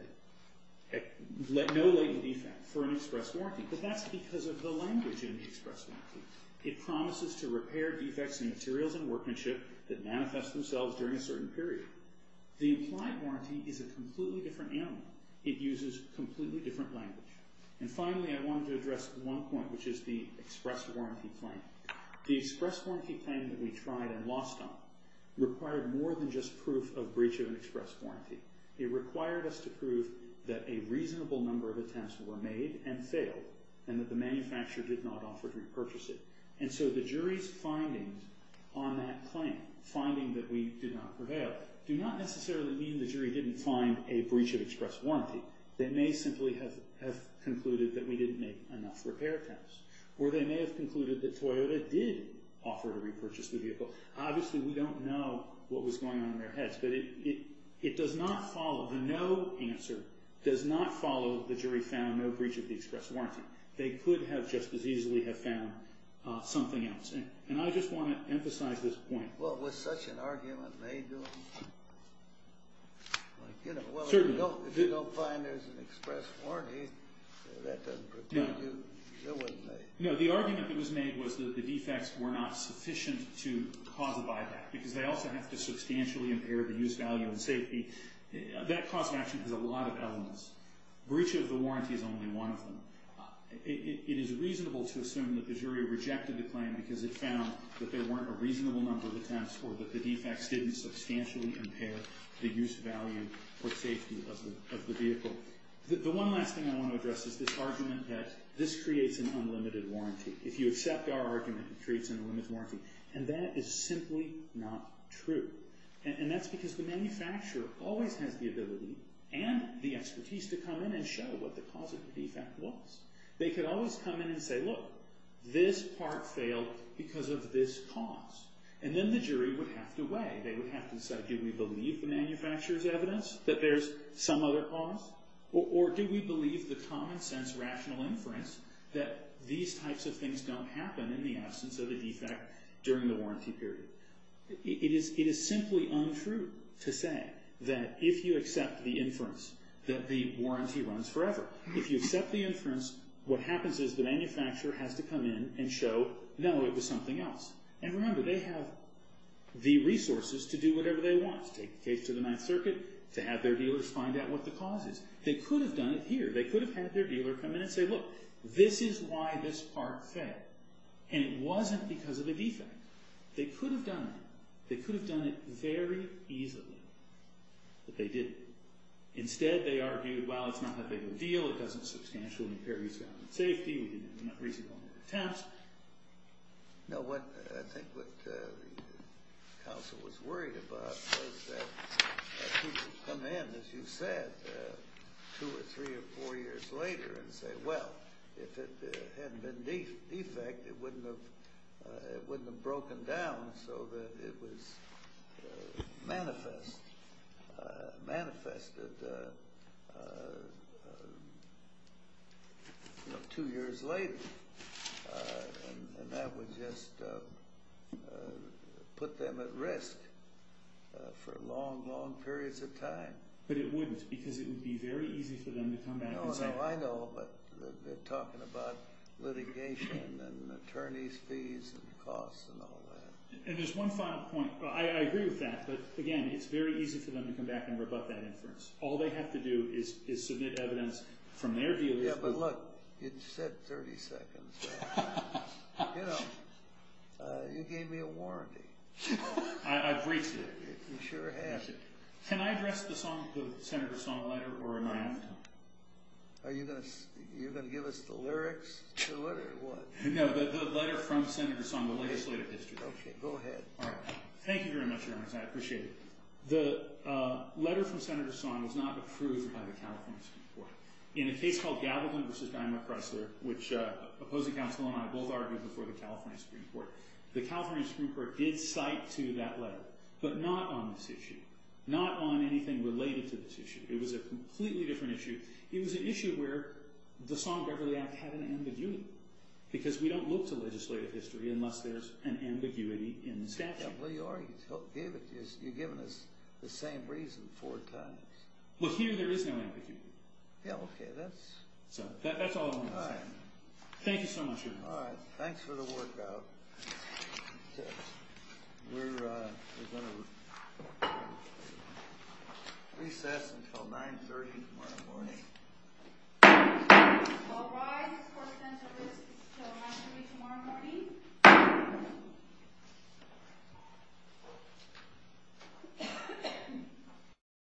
no legal defect for an express that's because of the language in the express warranty it promises to repair defects in materials and workmanship that manifest themselves during a certain period the implied warranty is a completely different animal it uses completely different language and finally I wanted to address one point which is the express warranty claim the express warranty claim that we tried and lost on required more than just proof of breach of an express warranty it required us to prove that a reasonable number of attempts were made and failed and that the manufacturer did not offer to repurchase it and so the jury's findings on that claim finding that we did not prevail do not necessarily mean the jury didn't find a breach of express warranty they may simply have concluded that we didn't make enough repair attempts or they may have concluded that Toyota did offer to repurchase the vehicle obviously we don't know what was going on in their heads but it does not follow the no answer does not follow the jury found no breach of the express warranty they could have just as easily have found something else and I just want to emphasize this point well was such an argument made like you know well if you don't find there's an express warranty that doesn't protect you it wasn't made no the argument that was made was that the defects were not sufficient to cause a buyback because they also have to substantially impair the use value and safety that cause of action has a lot of elements breach of the warranty is only one of them it is reasonable to assume that the jury rejected the claim because it found that there weren't a reasonable number of attempts or that the defects didn't substantially impair the use value or safety of the vehicle the one last thing I want to address is this argument that this creates an unlimited warranty if you accept our argument it creates an unlimited warranty and that is simply not true and that's because the manufacturer always has the ability and the expertise to come in and show what the cause of the defect was they could always come in and say look this part failed because of this cause and then the jury would have to weigh they would have to say do we believe the manufacturer's evidence that there's some other cause or do we believe the common sense rational inference that these types of things don't happen in the absence of a defect during the warranty period it is simply untrue to say that if you accept the inference that the warranty runs forever if you accept the inference what happens is the manufacturer has to come in and show no it was something else and remember they have the resources to do whatever they want to take the case to the jury and then say look this is why this part failed and it wasn't because of a defect they could have done it they could have done it very easily but they didn't instead they argued well it's not that big of a deal it doesn't substantially impair use safety we didn't have enough reasonable attempts now what I think what the council was worried about was that if people come in as you said two or three or four years later and say well if it hadn't been defect it wouldn't have broken down so that it was manifest manifested two years later and that would just put them at risk for long long periods of time but it wouldn't because it would be very easy for them to come back and say no I know but they're talking about litigation and attorneys fees and costs and all that I agree with that but again it's very easy for them to come back and rebut that inference all they have to do is submit evidence from their evidence yeah but look you said 30 seconds you know you gave me a warranty I've reached it you sure have can I address the senator song letter or am I on? are you going to give us the lyrics to it or what? no the letter from senator song the legislative history go ahead thank you very much your honor I appreciate it the letter from senator song was not approved by the california supreme court in a case called gavelman vs. diamond chrysler which uh opposing counsel and I both argued before the california supreme court the california supreme court did cite to that letter but not on this issue not on anything related to this issue it was a completely different issue it was an issue where the song beverly act had an ambiguity because we don't look to legislative history unless there's an ambiguity in the statute well you are you're giving us the same reason four times well here there is no ambiguity yeah ok that's that's all I wanted to say alright thank you so much your honor alright thanks for the work out we're uh we're going to recess until nine thirty tomorrow morning all rise court is adjourned until nine thirty tomorrow morning until nine thirty tomorrow morning court is adjourned